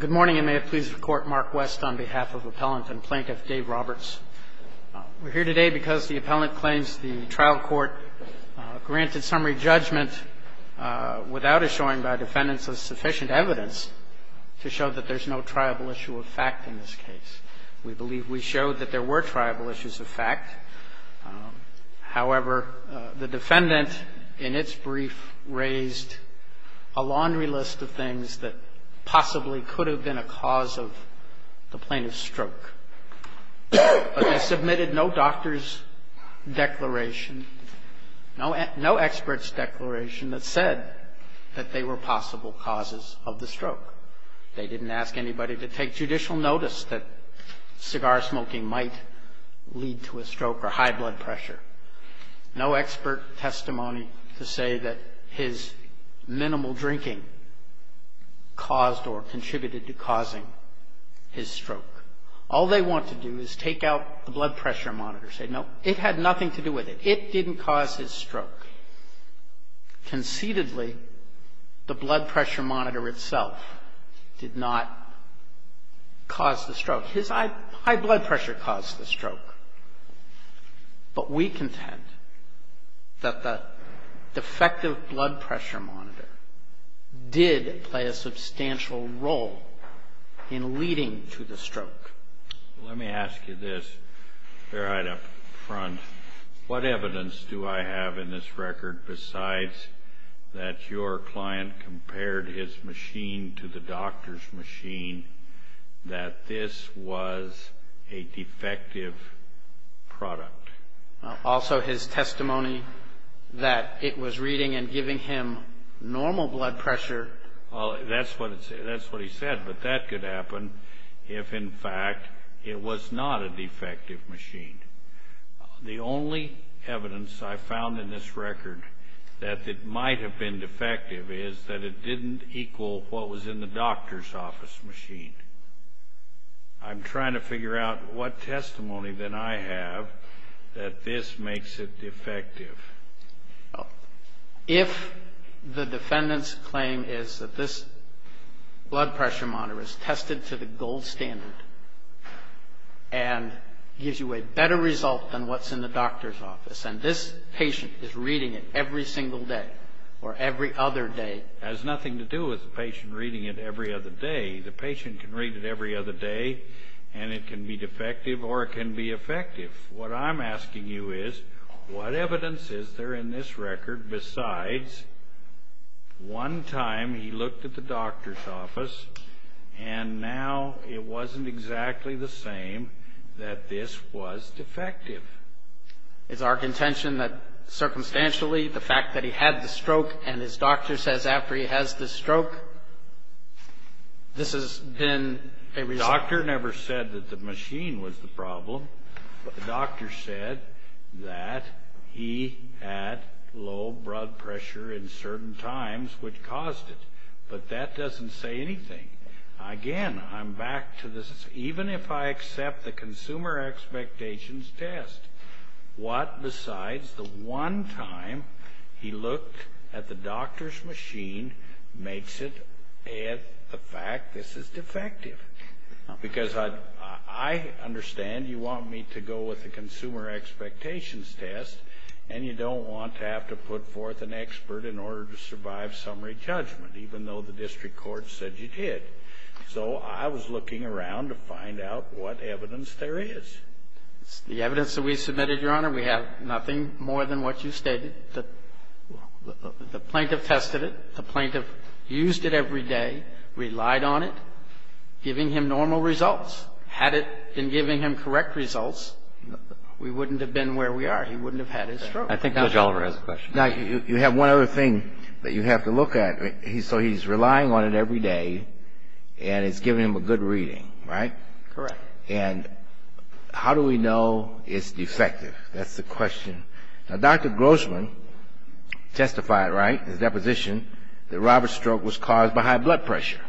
Good morning, and may it please the Court, Mark West on behalf of Appellant and Plaintiff Dave Roberts. We're here today because the Appellant claims the trial court granted summary judgment without assuring by defendants sufficient evidence to show that there's no triable issue of fact in this case. We believe we showed that there were triable issues of fact. However, the defendant in its brief raised a laundry list of things that possibly could have been a cause of the plaintiff's stroke. But they submitted no doctor's declaration, no expert's declaration that said that they were possible causes of the stroke. They didn't ask anybody to take judicial notice that cigar smoking might lead to a stroke or high blood pressure. No expert testimony to say that his minimal drinking caused or contributed to causing his stroke. All they want to do is take out the blood pressure monitor, say, no, it had nothing to do with it. It didn't cause his stroke. Conceitedly, the blood pressure monitor itself did not cause the stroke. His high blood pressure caused the stroke. But we contend that the defective blood pressure monitor did play a substantial role in leading to the stroke. Let me ask you this, Fairheid, up front. What evidence do I have in this record besides that your client compared his machine to the doctor's machine that this was a defective product? Also, his testimony that it was reading and giving him normal blood pressure. Well, that's what he said. But that could happen if, in fact, it was not a defective machine. The only evidence I found in this record that it might have been defective is that it didn't equal what was in the doctor's office machine. I'm trying to figure out what testimony then I have that this makes it defective. If the defendant's claim is that this blood pressure monitor is tested to the gold standard and gives you a better result than what's in the doctor's office, and this patient is reading it every single day or every other day. It has nothing to do with the patient reading it every other day. The patient can read it every other day, and it can be defective or it can be effective. What I'm asking you is, what evidence is there in this record besides one time he looked at the doctor's office and now it wasn't exactly the same that this was defective? Is our contention that, circumstantially, the fact that he had the stroke and his doctor says after he has the stroke, this has been a result? The doctor never said that the machine was the problem, but the doctor said that he had low blood pressure in certain times which caused it. But that doesn't say anything. Again, I'm back to this. Even if I accept the consumer expectations test, what besides the one time he looked at the doctor's machine makes it a fact this is defective? Because I understand you want me to go with the consumer expectations test, and you don't want to have to put forth an expert in order to survive summary judgment, even though the district court said you did. So I was looking around to find out what evidence there is. The evidence that we submitted, Your Honor, we have nothing more than what you stated. The plaintiff tested it. The plaintiff used it every day, relied on it, giving him normal results. Had it been giving him correct results, we wouldn't have been where we are. He wouldn't have had his stroke. I think Judge Oliver has a question. Now, you have one other thing that you have to look at. So he's relying on it every day, and it's giving him a good reading, right? Correct. And how do we know it's defective? That's the question. Now, Dr. Grossman testified, right, in his deposition, that Robert's stroke was caused by high blood pressure.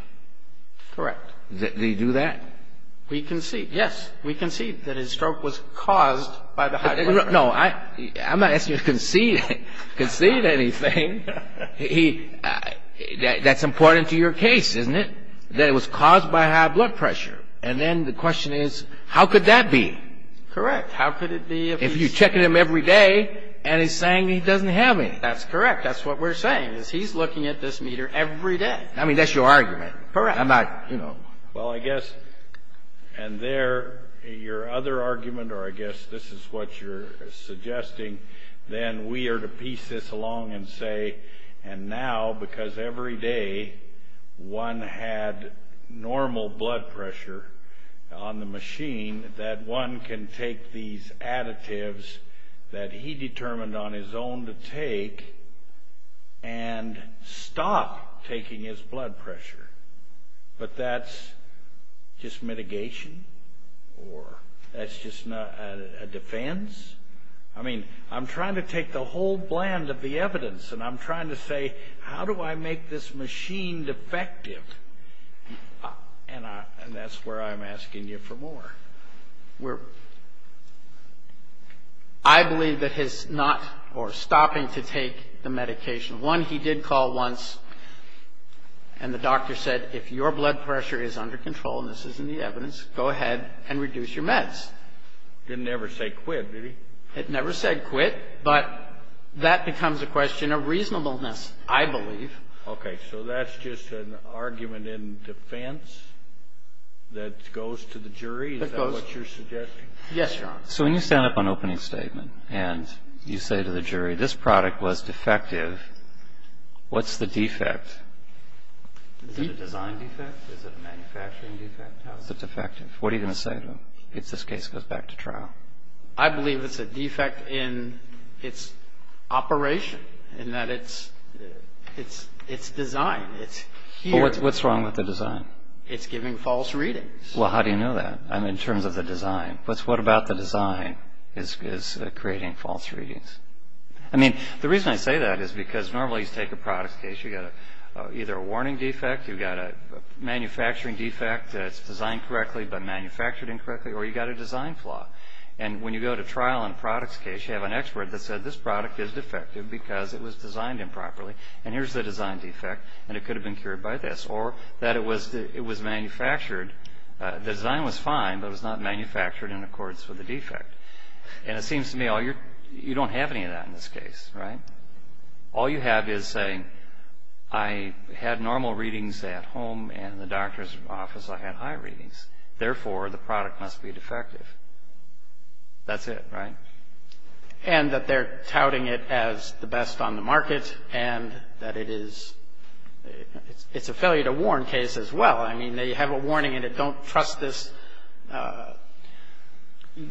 Correct. Did he do that? We concede, yes. We concede that his stroke was caused by the high blood pressure. No, I'm not asking you to concede anything. That's important to your case, isn't it, that it was caused by high blood pressure? And then the question is, how could that be? Correct. If you're checking him every day and he's saying he doesn't have it. That's correct. That's what we're saying, is he's looking at this meter every day. I mean, that's your argument. Correct. I'm not, you know. Well, I guess, and there, your other argument, or I guess this is what you're suggesting, then we are to piece this along and say, and now, because every day one had normal blood pressure on the machine, that one can take these additives that he determined on his own to take and stop taking his blood pressure. But that's just mitigation? Or that's just a defense? I mean, I'm trying to take the whole blend of the evidence, and I'm trying to say, how do I make this machine defective? And that's where I'm asking you for more. I believe that his not or stopping to take the medication. One, he did call once, and the doctor said, if your blood pressure is under control, and this isn't the evidence, go ahead and reduce your meds. Didn't ever say quit, did he? It never said quit, but that becomes a question of reasonableness, I believe. Okay. So that's just an argument in defense that goes to the jury? That goes. Is that what you're suggesting? Yes, Your Honor. So when you stand up on opening statement, and you say to the jury, this product was defective, what's the defect? Is it a design defect? Is it a manufacturing defect? How is it defective? What are you going to say to them? If this case goes back to trial. I believe it's a defect in its operation, in that it's design. What's wrong with the design? It's giving false readings. Well, how do you know that? I mean, in terms of the design. What about the design is creating false readings? I mean, the reason I say that is because normally you take a product case, you've got either a warning defect, you've got a manufacturing defect that's designed correctly but manufactured incorrectly, or you've got a design flaw. And when you go to trial on a product's case, you have an expert that said this product is defective because it was designed improperly, and here's the design defect, and it could have been cured by this. Or that it was manufactured. The design was fine, but it was not manufactured in accordance with the defect. And it seems to me you don't have any of that in this case, right? All you have is saying I had normal readings at home and in the doctor's office I had high readings. Therefore, the product must be defective. That's it, right? And that they're touting it as the best on the market and that it is... It's a failure to warn case as well. I mean, they have a warning in it, don't trust this...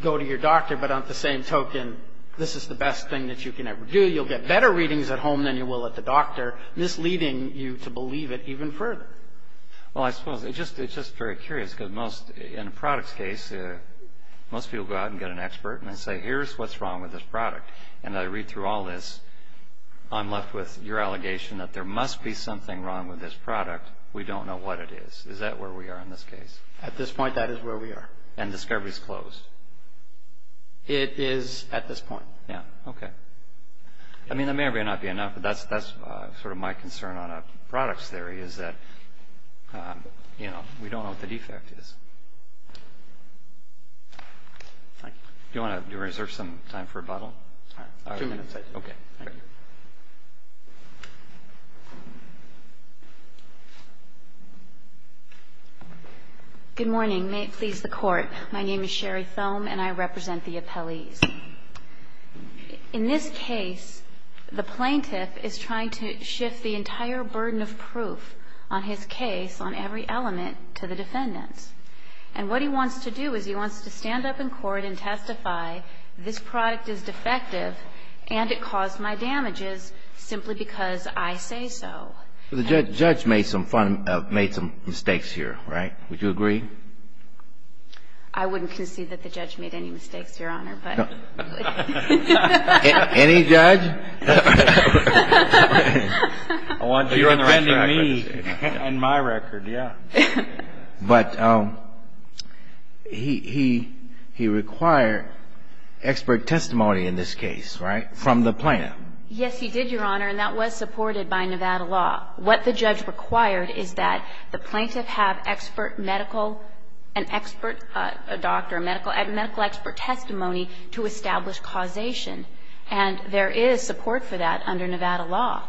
Go to your doctor, but on the same token, this is the best thing that you can ever do. You'll get better readings at home than you will at the doctor, misleading you to believe it even further. Well, I suppose it's just very curious because in a product's case, most people go out and get an expert and they say, here's what's wrong with this product. And I read through all this, I'm left with your allegation that there must be something wrong with this product. We don't know what it is. Is that where we are in this case? At this point, that is where we are. And discovery's closed? It is at this point. Yeah. Okay. I mean, that may or may not be enough, but that's sort of my concern on a product's theory is that, you know, we don't know what the defect is. Do you want to reserve some time for rebuttal? Two minutes. Thank you. Good morning. May it please the Court. My name is Sherry Thome and I represent the appellees. In this case, the plaintiff is trying to shift the entire burden of proof on his case on every element to the defendants. And what he wants to do is he wants to stand up in court and testify, this product is defective and it caused my damages simply because I say so. The judge made some mistakes here, right? Would you agree? I wouldn't concede that the judge made any mistakes, Your Honor, but. Any judge? You're defending me and my record, yeah. But he required expert testimony in this case, right, from the plaintiff? Yes, he did, Your Honor, and that was supported by Nevada law. What the judge required is that the plaintiff have expert medical, an expert doctor, medical expert testimony to establish causation. And there is support for that under Nevada law.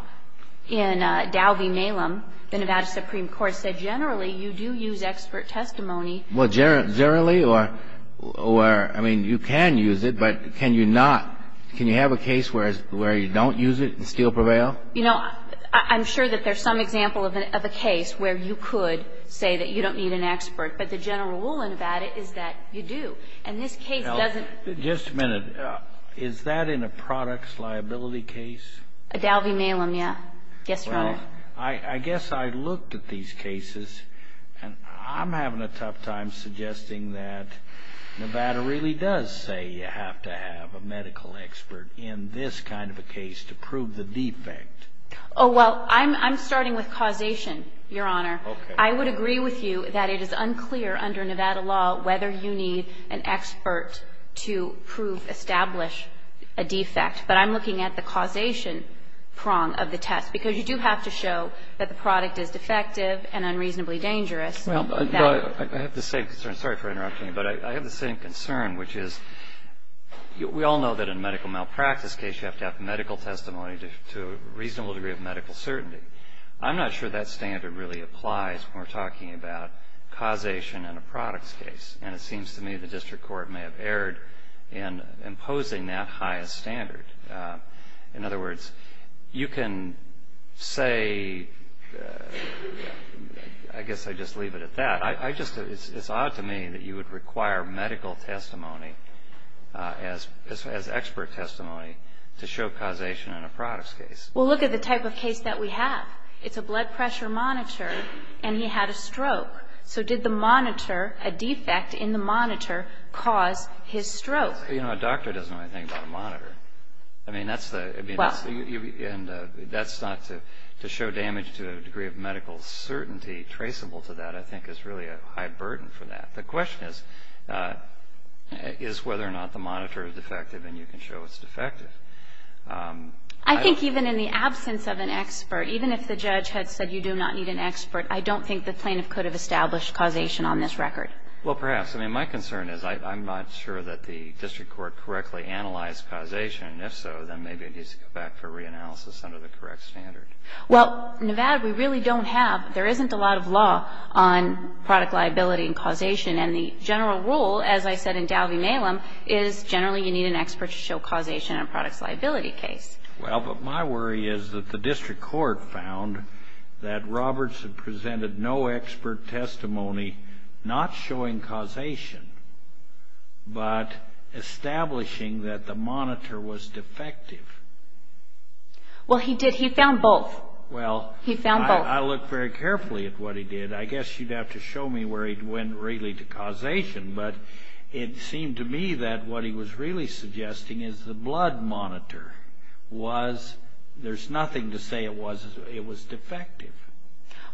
In Dow v. Malem, the Nevada Supreme Court said generally you do use expert testimony. Well, generally or, I mean, you can use it, but can you not, can you have a case where you don't use it and still prevail? You know, I'm sure that there's some example of a case where you could say that you don't need an expert, but the general rule in Nevada is that you do. And this case doesn't. Just a minute. Is that in a products liability case? Dow v. Malem, yeah. Yes, Your Honor. Well, I guess I looked at these cases, and I'm having a tough time suggesting that Nevada really does say you have to have a medical expert in this kind of a case to prove the defect. Oh, well, I'm starting with causation, Your Honor. Okay. I would agree with you that it is unclear under Nevada law whether you need an expert to prove, establish a defect. But I'm looking at the causation prong of the test, because you do have to show that the product is defective and unreasonably dangerous. Well, I have the same concern. Sorry for interrupting you, but I have the same concern, which is we all know that in a medical malpractice case you have to have medical testimony to a reasonable degree of medical certainty. I'm not sure that standard really applies when we're talking about causation in a products case, and it seems to me the district court may have erred in imposing that highest standard. In other words, you can say, I guess I'd just leave it at that. It's odd to me that you would require medical testimony as expert testimony to show causation in a products case. Well, look at the type of case that we have. It's a blood pressure monitor, and he had a stroke. So did the monitor, a defect in the monitor, cause his stroke? Well, you know, a doctor doesn't know anything about a monitor. I mean, that's the – and that's not to show damage to a degree of medical certainty traceable to that, I think is really a high burden for that. The question is whether or not the monitor is defective, and you can show it's defective. I think even in the absence of an expert, even if the judge had said you do not need an expert, I don't think the plaintiff could have established causation on this record. Well, perhaps. I mean, my concern is I'm not sure that the district court correctly analyzed causation, and if so, then maybe it needs to go back for reanalysis under the correct standard. Well, Nevada, we really don't have – there isn't a lot of law on product liability and causation, and the general rule, as I said in Dalvie-Malum, is generally you need an expert to show causation in a products liability case. Well, but my worry is that the district court found that Roberts had presented no expert testimony, not showing causation, but establishing that the monitor was defective. Well, he did. He found both. Well, I looked very carefully at what he did. I guess you'd have to show me where he went really to causation, but it seemed to me that what he was really suggesting is the blood monitor was – there's nothing to say it was defective.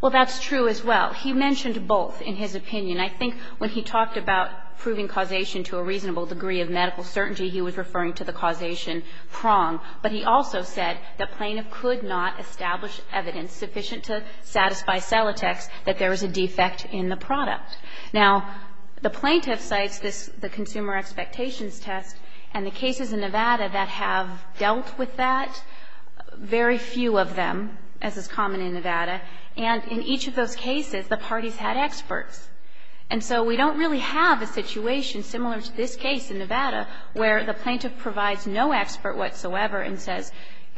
Well, that's true as well. He mentioned both in his opinion. I think when he talked about proving causation to a reasonable degree of medical certainty, he was referring to the causation prong. But he also said the plaintiff could not establish evidence sufficient to satisfy Celotex that there was a defect in the product. Now, the plaintiff cites this, the consumer expectations test, and the cases in Nevada that have dealt with that, very few of them, as is common in Nevada. And in each of those cases, the parties had experts. And so we don't really have a situation similar to this case in Nevada where the plaintiff provides no expert whatsoever and says,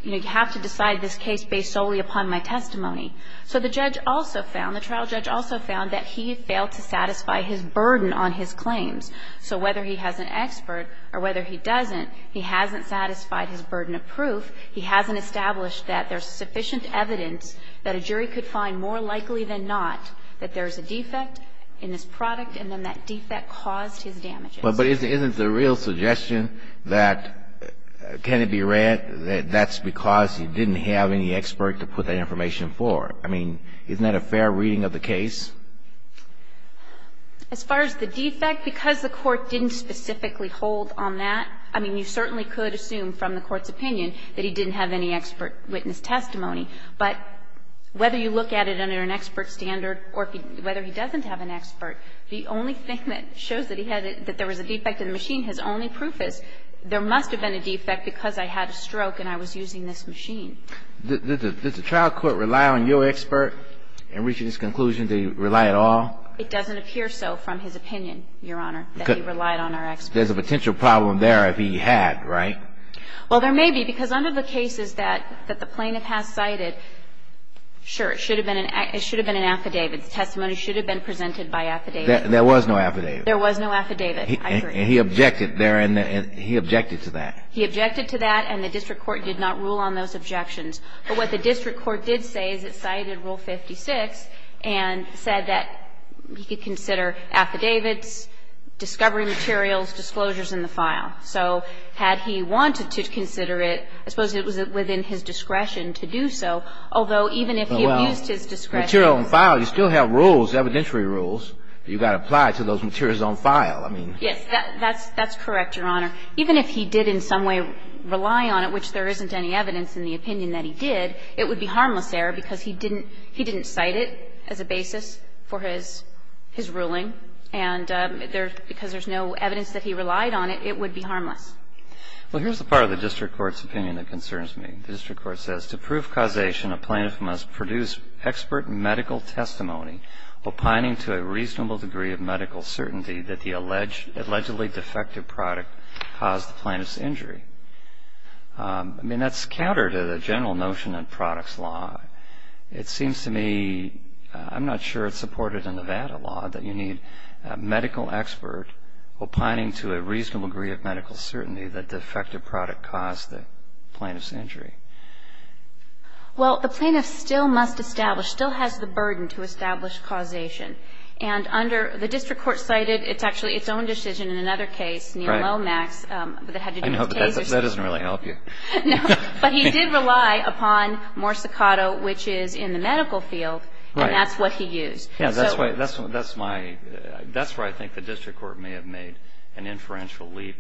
you know, you have to decide this case based solely upon my testimony. So the judge also found, the trial judge also found, that he failed to satisfy his burden on his claims. So whether he has an expert or whether he doesn't, he hasn't satisfied his burden of proof. He hasn't established that there's sufficient evidence that a jury could find more likely than not that there's a defect in this product, and then that defect caused his damages. Kennedy, that's because you didn't have any expert to put that information forward. I mean, isn't that a fair reading of the case? As far as the defect, because the Court didn't specifically hold on that, I mean, you certainly could assume from the Court's opinion that he didn't have any expert witness testimony. But whether you look at it under an expert standard or whether he doesn't have an expert, the only thing that shows that he had it, that there was a defect in the machine, his only proof is there must have been a defect because I had a stroke and I was using this machine. Does the trial court rely on your expert in reaching this conclusion? Do you rely at all? It doesn't appear so from his opinion, Your Honor, that he relied on our expert. There's a potential problem there if he had, right? Well, there may be, because under the cases that the plaintiff has cited, sure, it should have been an affidavit. Testimony should have been presented by affidavit. There was no affidavit. There was no affidavit. I agree. And he objected there, and he objected to that. He objected to that, and the district court did not rule on those objections. But what the district court did say is it cited Rule 56 and said that he could consider affidavits, discovery materials, disclosures in the file. So had he wanted to consider it, I suppose it was within his discretion to do so, although even if he abused his discretion. Well, material on file, you still have rules, evidentiary rules. You've got to apply to those materials on file. I mean. Yes, that's correct, Your Honor. Even if he did in some way rely on it, which there isn't any evidence in the opinion that he did, it would be harmless error because he didn't cite it as a basis for his ruling, and because there's no evidence that he relied on it, it would be harmless. Well, here's the part of the district court's opinion that concerns me. The district court says, To prove causation, a plaintiff must produce expert medical testimony opining to a reasonable degree of medical certainty that the allegedly defective product caused the plaintiff's injury. I mean, that's counter to the general notion in products law. It seems to me, I'm not sure it's supported in Nevada law, that you need a medical expert opining to a reasonable degree of medical certainty that the defective product caused the plaintiff's injury. Well, the plaintiff still must establish, still has the burden to establish causation, and under the district court cited, it's actually its own decision in another case, near Lomax, that had to do with tasers. I know, but that doesn't really help you. No, but he did rely upon Morsicato, which is in the medical field, and that's what he used. Right. Yeah, that's why I think the district court may have made an inferential leap,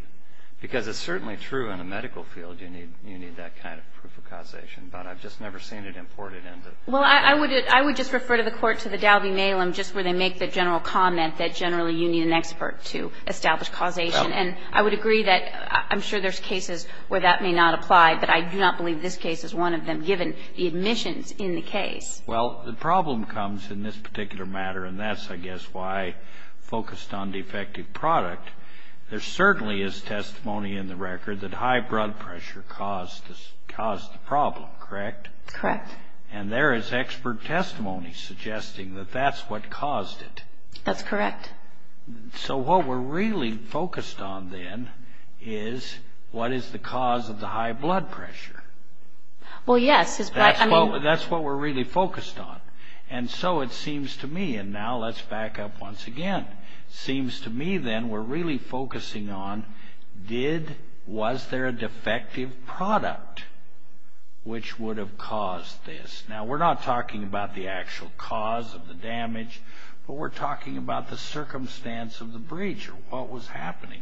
because it's certainly true in the medical field you need that kind of proof of causation, but I've just never seen it imported into. Well, I would just refer to the court, to the Dalby-Malem, just where they make the general comment that generally you need an expert to establish causation, and I would agree that I'm sure there's cases where that may not apply, but I do not believe this case is one of them, given the admissions in the case. Well, the problem comes in this particular matter, and that's, I guess, why I focused on defective product. There certainly is testimony in the record that high blood pressure caused the problem, correct? Correct. And there is expert testimony suggesting that that's what caused it. That's correct. So what we're really focused on then is what is the cause of the high blood pressure. Well, yes. That's what we're really focused on, and so it seems to me, and now let's back up once again, it seems to me then we're really focusing on was there a defective product which would have caused this. Now, we're not talking about the actual cause of the damage, but we're talking about the circumstance of the breach or what was happening,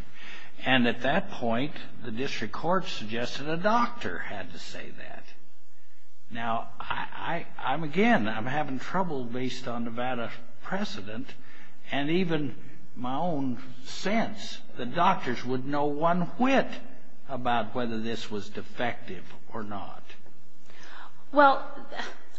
and at that point the district court suggested a doctor had to say that. Now, again, I'm having trouble based on Nevada precedent, and even my own sense, the doctors would know one whit about whether this was defective or not. Well,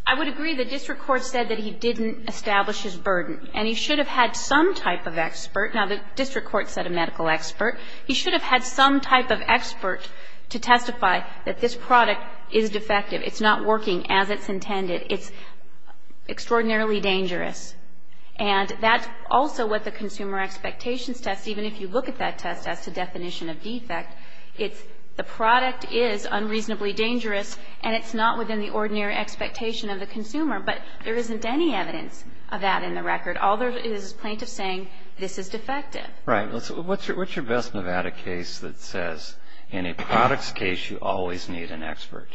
I would agree the district court said that he didn't establish his burden, and he should have had some type of expert. Now, the district court said a medical expert. He should have had some type of expert to testify that this product is defective. It's not working as it's intended. It's extraordinarily dangerous. And that's also what the consumer expectations test, even if you look at that test as to definition of defect, it's the product is unreasonably dangerous, and it's not within the ordinary expectation of the consumer. But there isn't any evidence of that in the record. All there is is plaintiffs saying this is defective. Right. What's your best Nevada case that says in a product's case you always need an expert?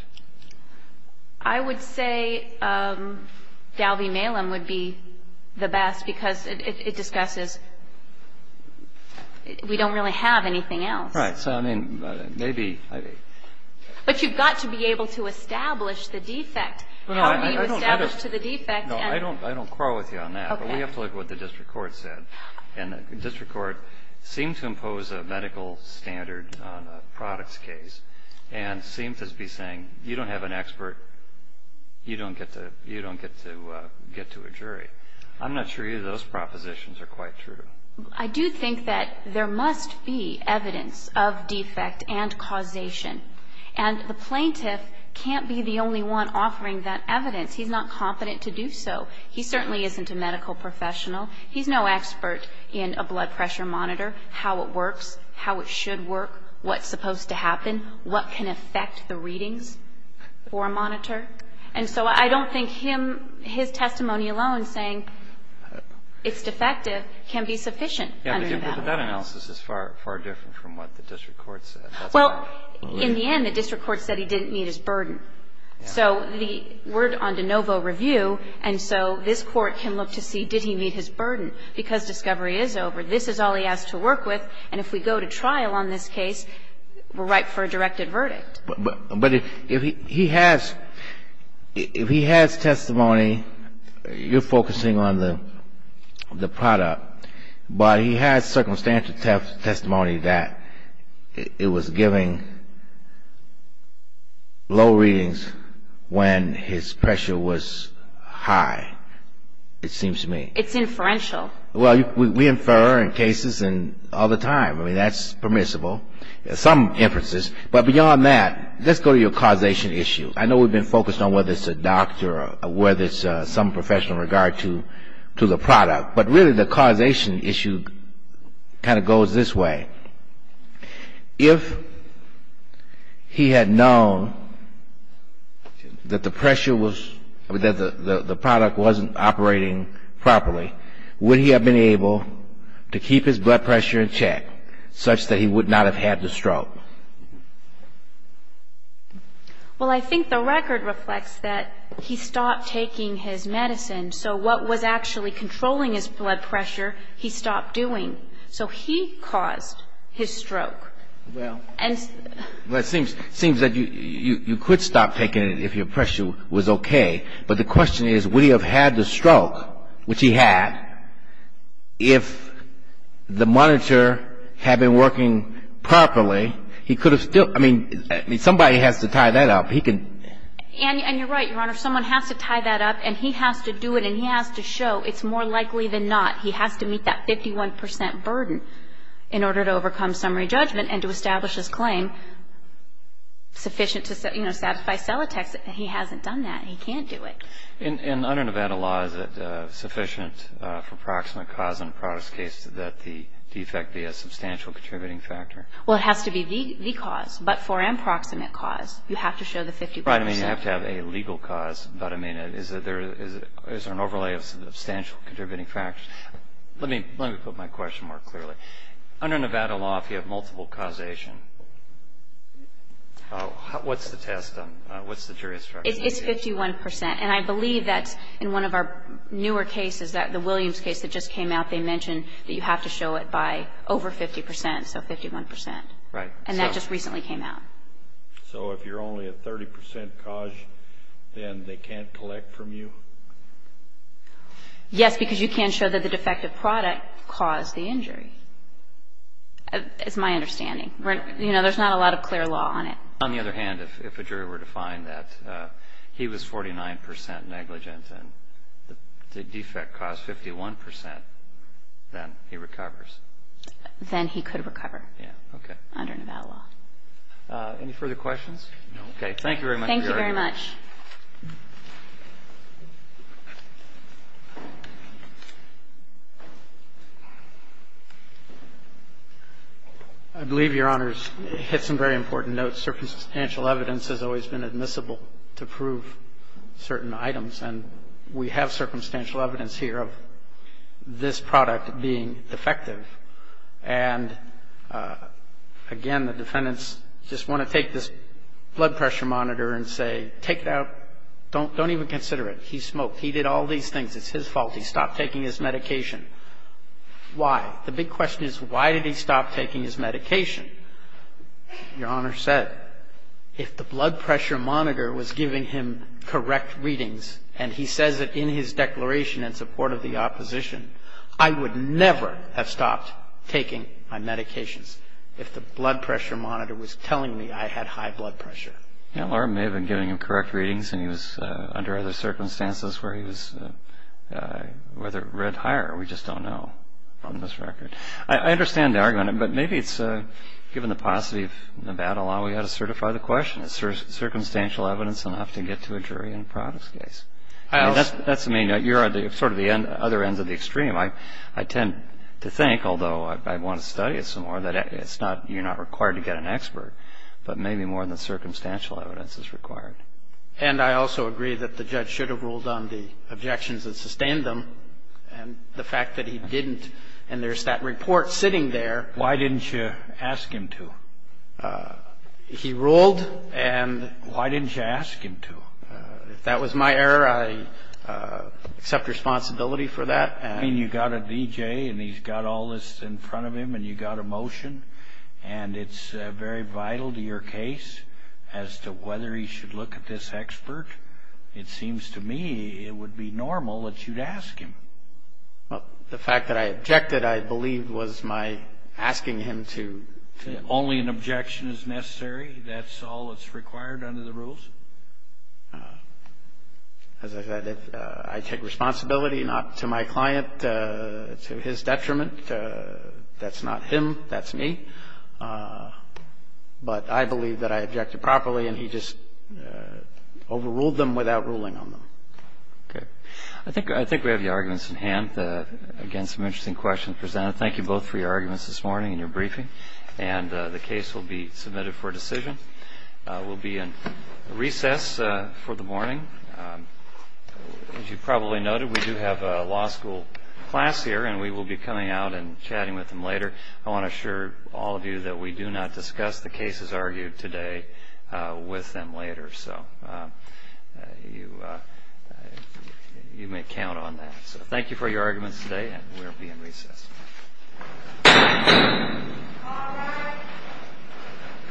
I would say Dalby Malem would be the best because it discusses we don't really have anything else. Right. So, I mean, maybe. But you've got to be able to establish the defect. How do you establish to the defect? No, I don't quarrel with you on that. Okay. But we have to look at what the district court said. And the district court seemed to impose a medical standard on a product's case and seemed to be saying you don't have an expert, you don't get to get to a jury. I'm not sure either of those propositions are quite true. I do think that there must be evidence of defect and causation. And the plaintiff can't be the only one offering that evidence. He's not confident to do so. He certainly isn't a medical professional. He's no expert in a blood pressure monitor, how it works, how it should work, what's supposed to happen, what can affect the readings for a monitor. And so I don't think him, his testimony alone saying it's defective can be sufficient under that. But that analysis is far, far different from what the district court said. Well, in the end, the district court said he didn't meet his burden. So the word on de novo review, and so this Court can look to see did he meet his burden because discovery is over. This is all he has to work with. And if we go to trial on this case, we're ripe for a directed verdict. But if he has testimony, you're focusing on the product, but he has circumstantial testimony that it was giving low readings when his pressure was high, it seems to me. It's inferential. Well, we infer in cases and all the time. I mean, that's permissible, some inferences. But beyond that, let's go to your causation issue. I know we've been focused on whether it's a doctor or whether it's some professional regard to the product. But really the causation issue kind of goes this way. If he had known that the pressure was – that the product wasn't operating properly, would he have been able to keep his blood pressure in check such that he would not have had the stroke? Well, I think the record reflects that he stopped taking his medicine. So what was actually controlling his blood pressure, he stopped doing. So he caused his stroke. Well, it seems that you could stop taking it if your pressure was okay. But the question is, would he have had the stroke, which he had, if the monitor had been working properly, he could have still – I mean, somebody has to tie that up. He can – And you're right, Your Honor. Someone has to tie that up, and he has to do it, and he has to show it's more likely than not. He has to meet that 51 percent burden in order to overcome summary judgment and to establish his claim sufficient to, you know, satisfy Celotex. He hasn't done that. He can't do it. And under Nevada law, is it sufficient for proximate cause in a product's case that the defect be a substantial contributing factor? Well, it has to be the cause. But for an approximate cause, you have to show the 50 percent. Right. I mean, you have to have a legal cause. But, I mean, is there an overlay of substantial contributing factors? Let me put my question more clearly. Under Nevada law, if you have multiple causation, what's the test? It's 51 percent. And I believe that in one of our newer cases, the Williams case that just came out, they mentioned that you have to show it by over 50 percent, so 51 percent. Right. And that just recently came out. So if you're only a 30 percent cause, then they can't collect from you? Yes, because you can show that the defective product caused the injury. It's my understanding. You know, there's not a lot of clear law on it. On the other hand, if a jury were to find that he was 49 percent negligent and the defect caused 51 percent, then he recovers? Then he could recover. Yeah. Okay. Under Nevada law. Any further questions? No. Okay. Thank you very much for your argument. Thank you very much. I believe, Your Honors, hit some very important notes. Circumstantial evidence has always been admissible to prove certain items, and we have circumstantial evidence here of this product being defective. And, again, the defendants just want to take this blood pressure monitor and say, take that blood pressure monitor and say, Don't even consider it. He smoked. He did all these things. It's his fault. He stopped taking his medication. Why? The big question is, why did he stop taking his medication? Your Honor said, if the blood pressure monitor was giving him correct readings, and he says it in his declaration in support of the opposition, I would never have stopped taking my medications if the blood pressure monitor was telling me I had high blood pressure. Your Honor may have been giving him correct readings, and he was under other circumstances where he was read higher. We just don't know on this record. I understand the argument, but maybe it's given the paucity of Nevada law, we ought to certify the question. Is circumstantial evidence enough to get to a jury in a products case? That's the main note. You're on sort of the other end of the extreme. I tend to think, although I want to study it some more, that you're not required to get an expert, but maybe more than circumstantial evidence is required. And I also agree that the judge should have ruled on the objections that sustained him, and the fact that he didn't, and there's that report sitting there. Why didn't you ask him to? He ruled, and why didn't you ask him to? If that was my error, I accept responsibility for that. I mean, you've got a D.J., and he's got all this in front of him, and you've got a motion, and it's very vital to your case as to whether he should look at this expert. It seems to me it would be normal that you'd ask him. The fact that I objected, I believe, was my asking him to. Only an objection is necessary? That's all that's required under the rules? As I said, I take responsibility not to my client, to his detriment. That's not him. That's me. But I believe that I objected properly, and he just overruled them without ruling on them. Okay. I think we have the arguments in hand. Again, some interesting questions presented. Thank you both for your arguments this morning and your briefing. And the case will be submitted for decision. We'll be in recess for the morning. As you probably noted, we do have a law school class here, and we will be coming out and chatting with them later. I want to assure all of you that we do not discuss the cases argued today with them later. So you may count on that. So thank you for your arguments today, and we'll be in recess. All rise.